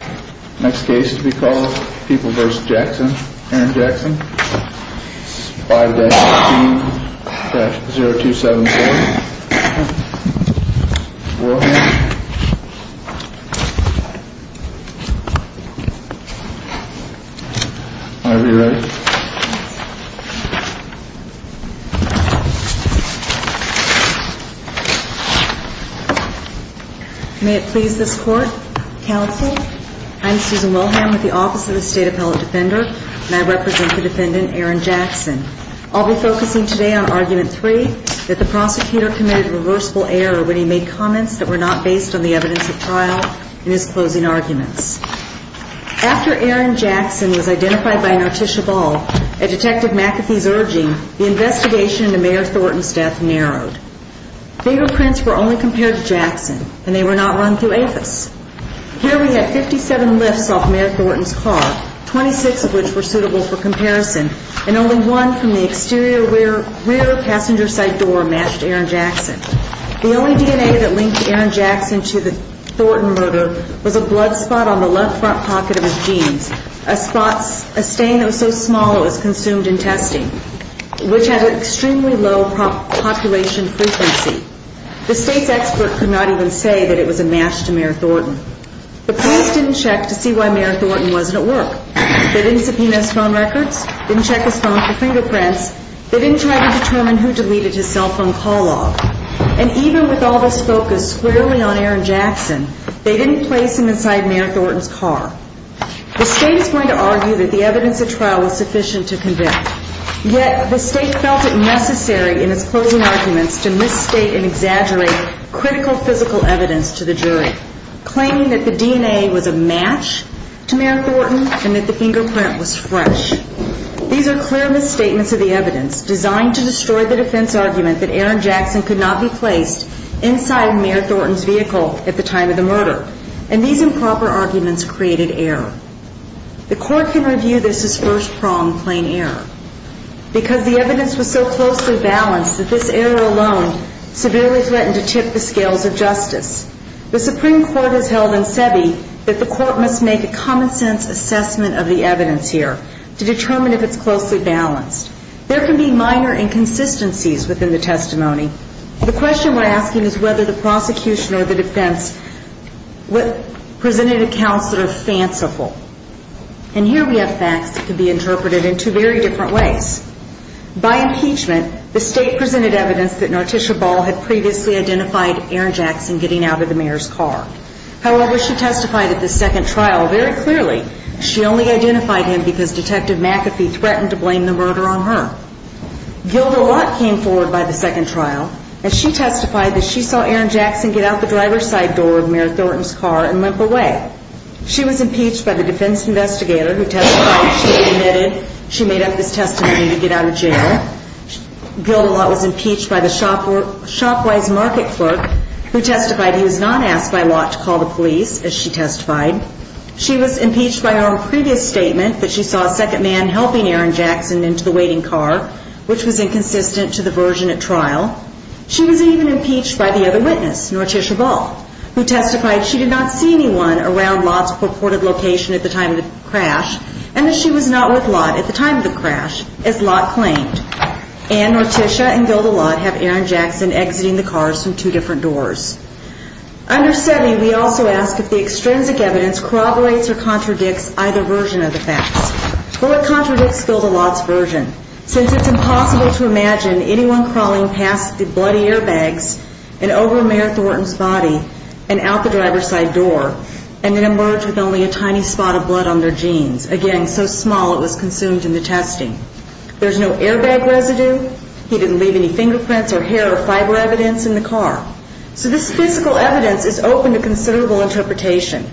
Aaron Jackson 5-15-0274 Warren Whenever you're ready May it please this court, counsel. I'm Susan Wilhelm with the Office of the State Appellate Defender, and I represent the defendant Aaron Jackson. I'll be focusing today on Argument 3, that the prosecutor committed a reversible error when he made comments that were not based on the evidence of trial in his closing arguments. After Aaron Jackson was identified by an artichoke ball at Detective McAfee's urging, the investigation into Mayor Thornton's death narrowed. Fingerprints were only compared to Jackson, and they were not run through APHIS. Here we have 57 lifts off Mayor Thornton's car, 26 of which were suitable for comparison, and only one from the exterior rear passenger side door matched Aaron Jackson. The only DNA that linked Aaron Jackson to the Thornton murder was a blood spot on the left front pocket of his jeans, a stain that was so small it was consumed in testing, which had an extremely low population frequency. The State's expert could not even say that it was a match to Mayor Thornton. The police didn't check to see why Mayor Thornton wasn't at work. They didn't subpoena his phone records, didn't check his phone for fingerprints, they didn't try to determine who deleted his cell phone call log. And even with all this focus squarely on Aaron Jackson, they didn't place him inside Mayor Thornton's car. The State is going to argue that the evidence at trial was sufficient to convict. Yet the State felt it necessary in its closing arguments to misstate and exaggerate critical physical evidence to the jury, claiming that the DNA was a match to Mayor Thornton and that the fingerprint was fresh. These are clear misstatements of the evidence designed to destroy the defense argument that Aaron Jackson could not be placed inside Mayor Thornton's vehicle at the time of the murder. And these improper arguments created error. The court can review this as first-pronged plain error, because the evidence was so closely balanced that this error alone severely threatened to tip the scales of justice. The Supreme Court has held in SEBI that the court must make a common-sense assessment of the evidence here to determine if it's closely balanced. There can be minor inconsistencies within the testimony. The question we're asking is whether the prosecution or the defense presented accounts that are fanciful. And here we have facts that can be interpreted in two very different ways. By impeachment, the State presented evidence that Norticia Ball had previously identified Aaron Jackson getting out of the mayor's car. However, she testified at the second trial very clearly she only identified him because Detective McAfee threatened to blame the murder on her. Gilda Lott came forward by the second trial, and she testified that she saw Aaron Jackson get out the driver's side door of Mayor Thornton's car and limp away. She was impeached by the defense investigator who testified she admitted she made up this testimony to get out of jail. Gilda Lott was impeached by the Shopwise market clerk who testified he was not asked by Lott to call the police, as she testified. She was impeached by her previous statement that she saw a second man helping Aaron Jackson into the waiting car, which was inconsistent to the version at trial. She was even impeached by the other witness, Norticia Ball, who testified she did not see anyone around Lott's purported location at the time of the crash, and that she was not with Lott at the time of the crash, as Lott claimed. And Norticia and Gilda Lott have Aaron Jackson exiting the cars from two different doors. Under SETI, we also ask if the extrinsic evidence corroborates or contradicts either version of the facts. Well, it contradicts Gilda Lott's version, since it's impossible to imagine anyone crawling past the bloody airbags and over Mayor Thornton's body and out the driver's side door, and then emerge with only a tiny spot of blood on their jeans, again, so small it was consumed in the testing. There's no airbag residue. He didn't leave any fingerprints or hair or fiber evidence in the car. So this physical evidence is open to considerable interpretation.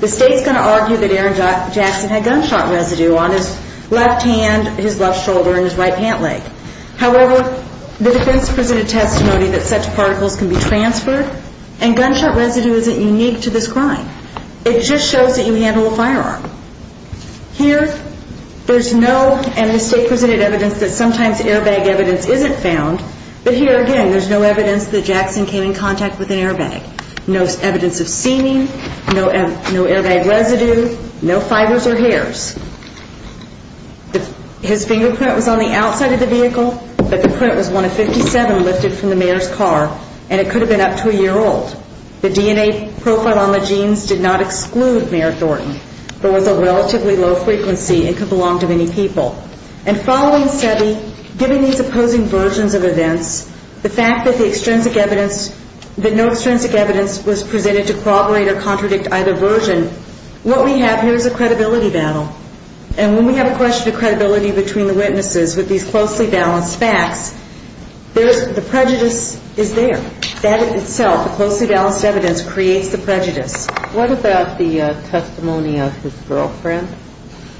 The State's going to argue that Aaron Jackson had gunshot residue on his left hand, his left shoulder, and his right pant leg. However, the defense presented testimony that such particles can be transferred, and gunshot residue isn't unique to this crime. It just shows that you handle a firearm. Here, there's no, and the State presented evidence that sometimes airbag evidence isn't found. But here, again, there's no evidence that Jackson came in contact with an airbag. No evidence of seaming, no airbag residue, no fibers or hairs. His fingerprint was on the outside of the vehicle, but the print was 1 of 57 lifted from the Mayor's car, and it could have been up to a year old. The DNA profile on the jeans did not exclude Mayor Thornton, but with a relatively low frequency, it could belong to many people. And following SEBI, given these opposing versions of events, the fact that the extrinsic evidence, that no extrinsic evidence was presented to corroborate or contradict either version, what we have here is a credibility battle. And when we have a question of credibility between the witnesses with these closely balanced facts, there's, the prejudice is there. That itself, the closely balanced evidence, creates the prejudice. What about the testimony of his girlfriend?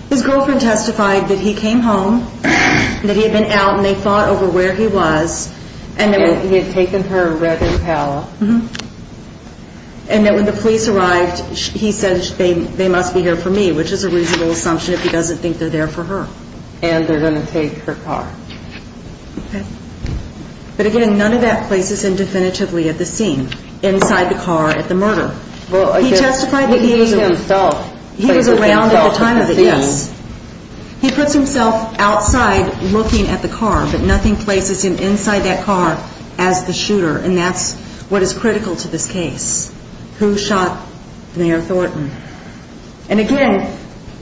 His girlfriend testified that he came home, that he had been out and they fought over where he was. And that he had taken her red Impala. And that when the police arrived, he said they must be here for me, which is a reasonable assumption if he doesn't think they're there for her. And they're going to take her car. But again, none of that places him definitively at the scene, inside the car at the murder. He testified that he was around at the time of it, yes. He puts himself outside looking at the car, but nothing places him inside that car as the shooter. And that's what is critical to this case, who shot Mayor Thornton. And again,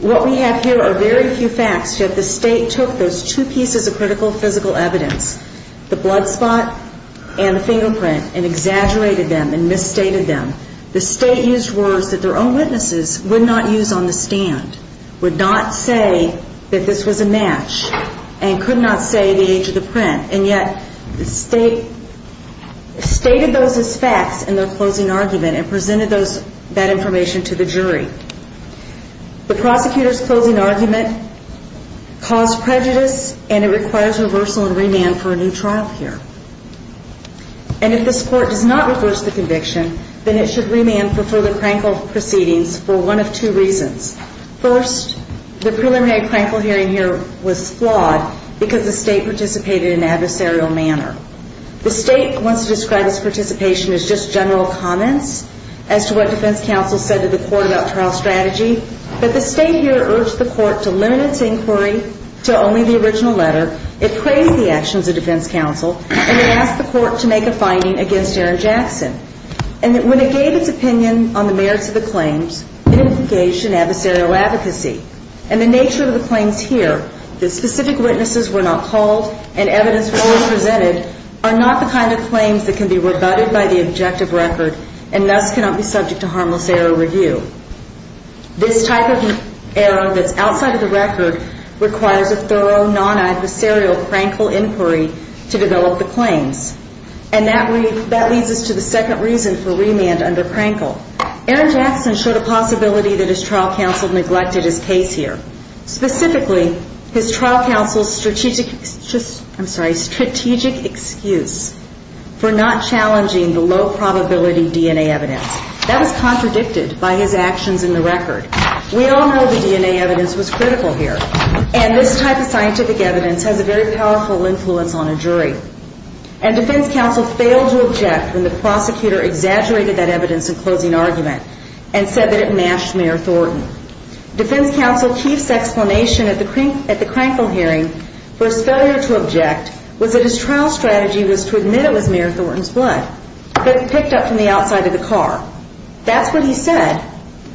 what we have here are very few facts. Yet the State took those two pieces of critical physical evidence, the blood spot and the fingerprint, and exaggerated them and misstated them. The State used words that their own witnesses would not use on the stand, would not say that this was a match, and could not say the age of the print. And yet the State stated those as facts in their closing argument and presented that information to the jury. The prosecutor's closing argument caused prejudice, and it requires reversal and remand for a new trial here. And if this Court does not reverse the conviction, then it should remand for further Krankel proceedings for one of two reasons. First, the preliminary Krankel hearing here was flawed because the State participated in an adversarial manner. The State wants to describe its participation as just general comments as to what defense counsel said to the Court about trial strategy. But the State here urged the Court to limit its inquiry to only the original letter. It praised the actions of defense counsel, and it asked the Court to make a finding against Aaron Jackson. And when it gave its opinion on the merits of the claims, it engaged in adversarial advocacy. And the nature of the claims here, that specific witnesses were not called and evidence was presented, are not the kind of claims that can be rebutted by the objective record and thus cannot be subject to harmless error review. This type of error that's outside of the record requires a thorough, non-adversarial Krankel inquiry to develop the claims. And that leads us to the second reason for remand under Krankel. Aaron Jackson showed a possibility that his trial counsel neglected his case here. Specifically, his trial counsel's strategic excuse for not challenging the low-probability DNA evidence. That was contradicted by his actions in the record. We all know the DNA evidence was critical here. And this type of scientific evidence has a very powerful influence on a jury. And defense counsel failed to object when the prosecutor exaggerated that evidence in closing argument and said that it matched Mayor Thornton. Defense counsel Keefe's explanation at the Krankel hearing for his failure to object was that his trial strategy was to admit it was Mayor Thornton's blood that he picked up from the outside of the car. That's what he said,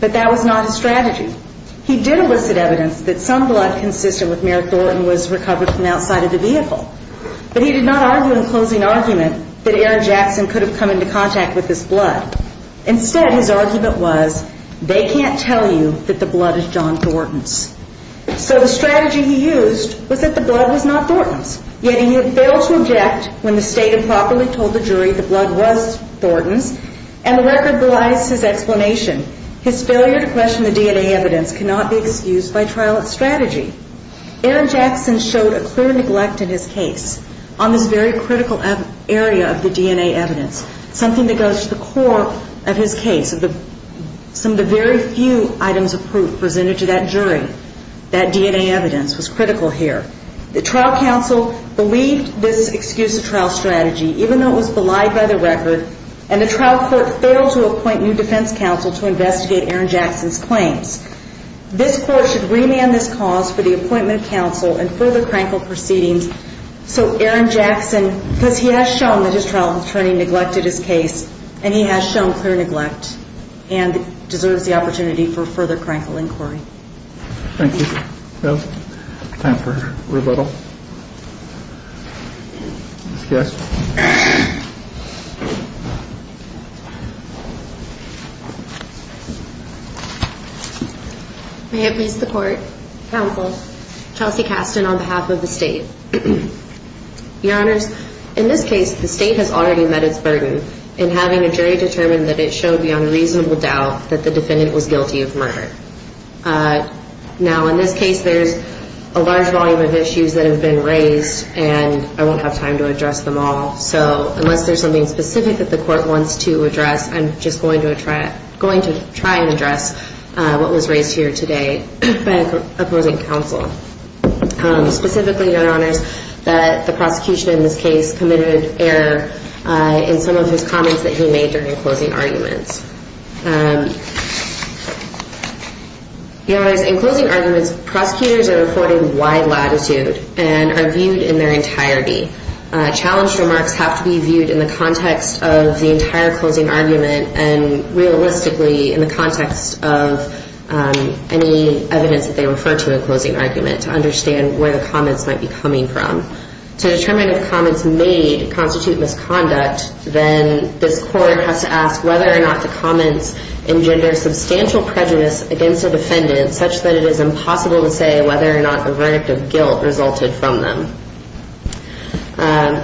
but that was not his strategy. He did elicit evidence that some blood consistent with Mayor Thornton was recovered from outside of the vehicle. But he did not argue in closing argument that Aaron Jackson could have come into contact with this blood. Instead, his argument was, they can't tell you that the blood is John Thornton's. So the strategy he used was that the blood was not Thornton's. Yet he had failed to object when the state had properly told the jury the blood was Thornton's. And the record belies his explanation. His failure to question the DNA evidence cannot be excused by trial strategy. Aaron Jackson showed a clear neglect in his case on this very critical area of the DNA evidence, something that goes to the core of his case. Some of the very few items of proof presented to that jury, that DNA evidence, was critical here. The trial counsel believed this excuse of trial strategy, even though it was belied by the record, and the trial court failed to appoint new defense counsel to investigate Aaron Jackson's claims. This court should remand this cause for the appointment of counsel and further crankle proceedings so Aaron Jackson, because he has shown that his trial attorney neglected his case, and he has shown clear neglect and deserves the opportunity for further crankle inquiry. Thank you. Time for rebuttal. Discussion. May it please the court, counsel, Chelsea Kasten on behalf of the state. Your Honors, in this case the state has already met its burden in having a jury determine that it showed beyond reasonable doubt Now, in this case, there's a large volume of issues that have been raised, and I won't have time to address them all. So unless there's something specific that the court wants to address, I'm just going to try and address what was raised here today by opposing counsel. Specifically, Your Honors, that the prosecution in this case committed error in some of his comments that he made during closing arguments. Your Honors, in closing arguments, prosecutors are reporting wide latitude and are viewed in their entirety. Challenged remarks have to be viewed in the context of the entire closing argument and realistically in the context of any evidence that they refer to in closing argument to understand where the comments might be coming from. To determine if comments made constitute misconduct, then this court has to ask whether or not the comments engender substantial prejudice against the defendant such that it is impossible to say whether or not the verdict of guilt resulted from them.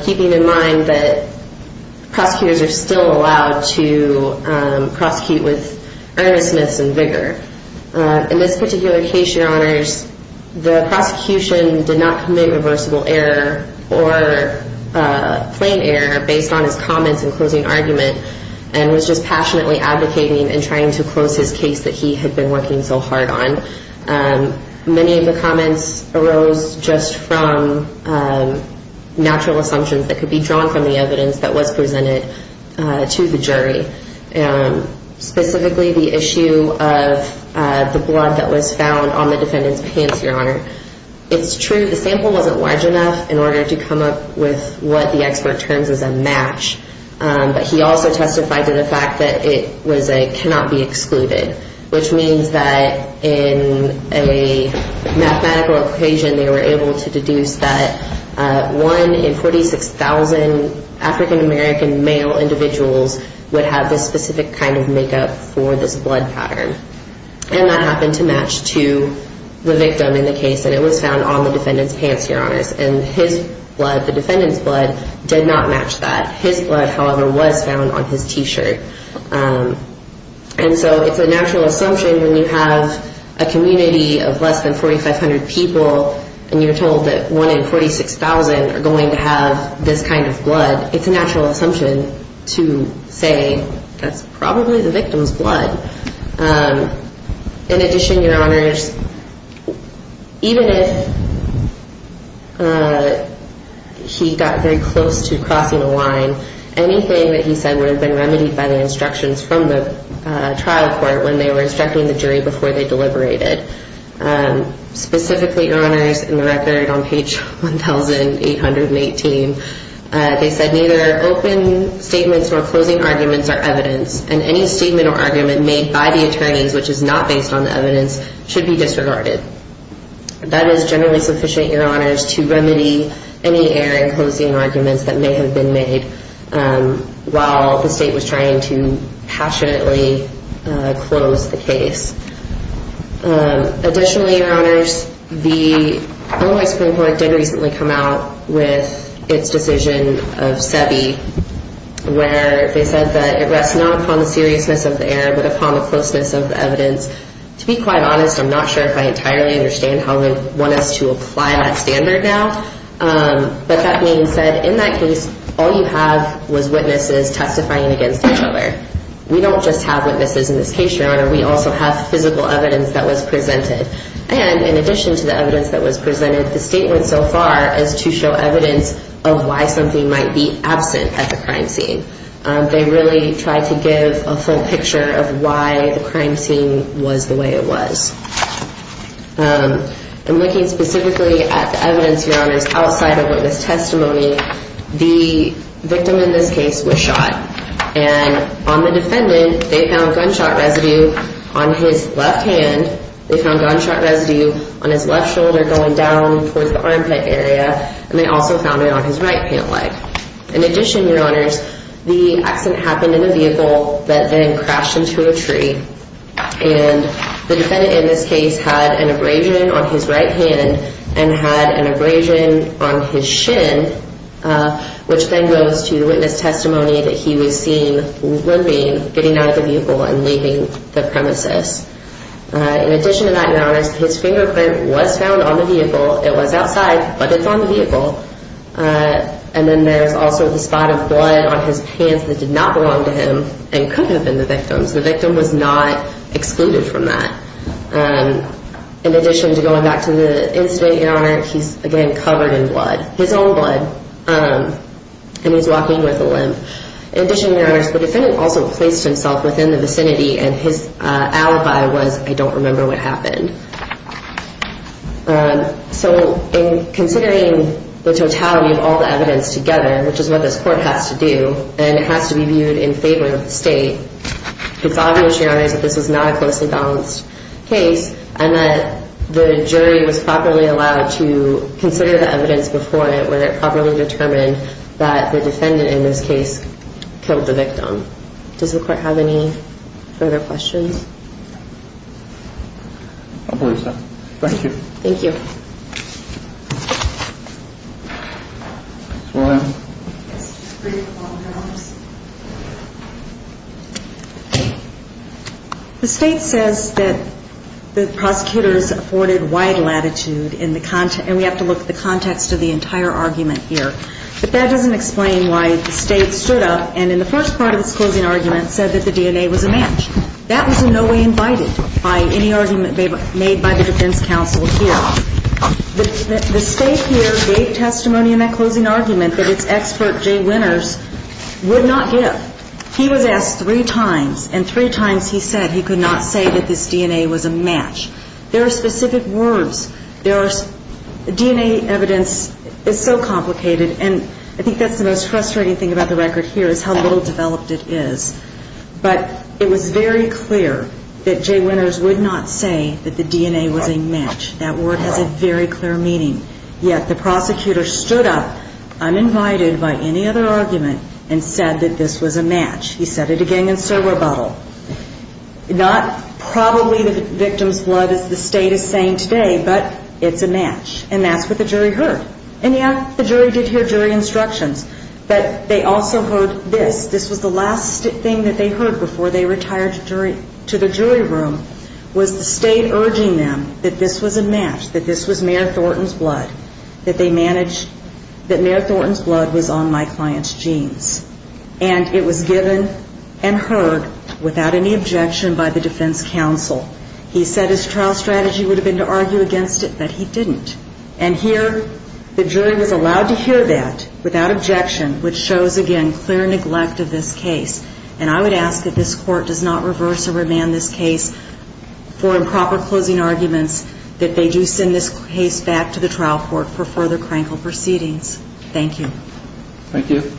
Keeping in mind that prosecutors are still allowed to prosecute with earnestness and vigor. In this particular case, Your Honors, the prosecution did not commit reversible error or plain error based on his comments in closing argument and was just passionately advocating and trying to close his case that he had been working so hard on. Many of the comments arose just from natural assumptions that could be drawn from the evidence that was presented to the jury. Specifically, the issue of the blood that was found on the defendant's pants, Your Honor. It's true the sample wasn't large enough in order to come up with what the expert terms as a match. But he also testified to the fact that it was a cannot be excluded. Which means that in a mathematical equation, they were able to deduce that one in 46,000 African American male individuals would have this specific kind of makeup for this blood pattern. And that happened to match to the victim in the case. And it was found on the defendant's pants, Your Honors. And his blood, the defendant's blood, did not match that. His blood, however, was found on his t-shirt. And so it's a natural assumption when you have a community of less than 4,500 people and you're told that one in 46,000 are going to have this kind of blood. It's a natural assumption to say that's probably the victim's blood. In addition, Your Honors, even if he got very close to crossing a line, anything that he said would have been remedied by the instructions from the trial court when they were instructing the jury before they deliberated. Specifically, Your Honors, in the record on page 1,818, they said, neither open statements nor closing arguments are evidence. And any statement or argument made by the attorneys which is not based on the evidence should be disregarded. That is generally sufficient, Your Honors, to remedy any air and closing arguments that may have been made while the state was trying to passionately close the case. Additionally, Your Honors, the Illinois Supreme Court did recently come out with its decision of SEBI where they said that it rests not upon the seriousness of the error but upon the closeness of the evidence. To be quite honest, I'm not sure if I entirely understand how they want us to apply that standard now. But that being said, in that case, all you have was witnesses testifying against each other. We don't just have witnesses in this case, Your Honor. We also have physical evidence that was presented. And in addition to the evidence that was presented, the state went so far as to show evidence of why something might be absent at the crime scene. They really tried to give a full picture of why the crime scene was the way it was. In looking specifically at the evidence, Your Honors, outside of witness testimony, the victim in this case was shot. And on the defendant, they found gunshot residue on his left hand. They found gunshot residue on his left shoulder going down towards the armpit area. And they also found it on his right pant leg. In addition, Your Honors, the accident happened in a vehicle that then crashed into a tree. And the defendant in this case had an abrasion on his right hand and had an abrasion on his shin, which then goes to witness testimony that he was seen limping, getting out of the vehicle, and leaving the premises. In addition to that, Your Honors, his fingerprint was found on the vehicle. It was outside, but it's on the vehicle. And then there's also the spot of blood on his pants that did not belong to him and could have been the victim's. The victim was not excluded from that. In addition to going back to the incident, Your Honor, he's, again, covered in blood. His own blood. And he's walking with a limp. In addition, Your Honors, the defendant also placed himself within the vicinity, and his alibi was, I don't remember what happened. So in considering the totality of all the evidence together, which is what this court has to do, and it has to be viewed in favor of the state, it's obvious, Your Honors, that this is not a closely balanced case and that the jury was properly allowed to consider the evidence before it when it properly determined that the defendant in this case killed the victim. Does the court have any further questions? I believe so. Thank you. Thank you. Ms. Williams. The State says that the prosecutors afforded wide latitude in the context, and we have to look at the context of the entire argument here. But that doesn't explain why the State stood up and in the first part of its closing argument said that the DNA was a match. That was in no way invited by any argument made by the defense counsel here. The State here gave testimony in that closing argument that its expert, Jay Winters, would not give. He was asked three times, and three times he said he could not say that this DNA was a match. There are specific words. DNA evidence is so complicated, and I think that's the most frustrating thing about the record here is how little developed it is. But it was very clear that Jay Winters would not say that the DNA was a match. That word has a very clear meaning. Yet the prosecutor stood up, uninvited by any other argument, and said that this was a match. He said it again in servo battle. Not probably the victim's blood, as the State is saying today, but it's a match. And that's what the jury heard. And yet the jury did hear jury instructions, but they also heard this. This was the last thing that they heard before they retired to the jury room, was the State urging them that this was a match, that this was Mayor Thornton's blood, that Mayor Thornton's blood was on my client's genes. And it was given and heard without any objection by the defense counsel. He said his trial strategy would have been to argue against it, but he didn't. And here the jury was allowed to hear that without objection, which shows, again, clear neglect of this case. And I would ask that this Court does not reverse or remand this case for improper closing arguments, that they do send this case back to the trial court for further crankle proceedings. Thank you.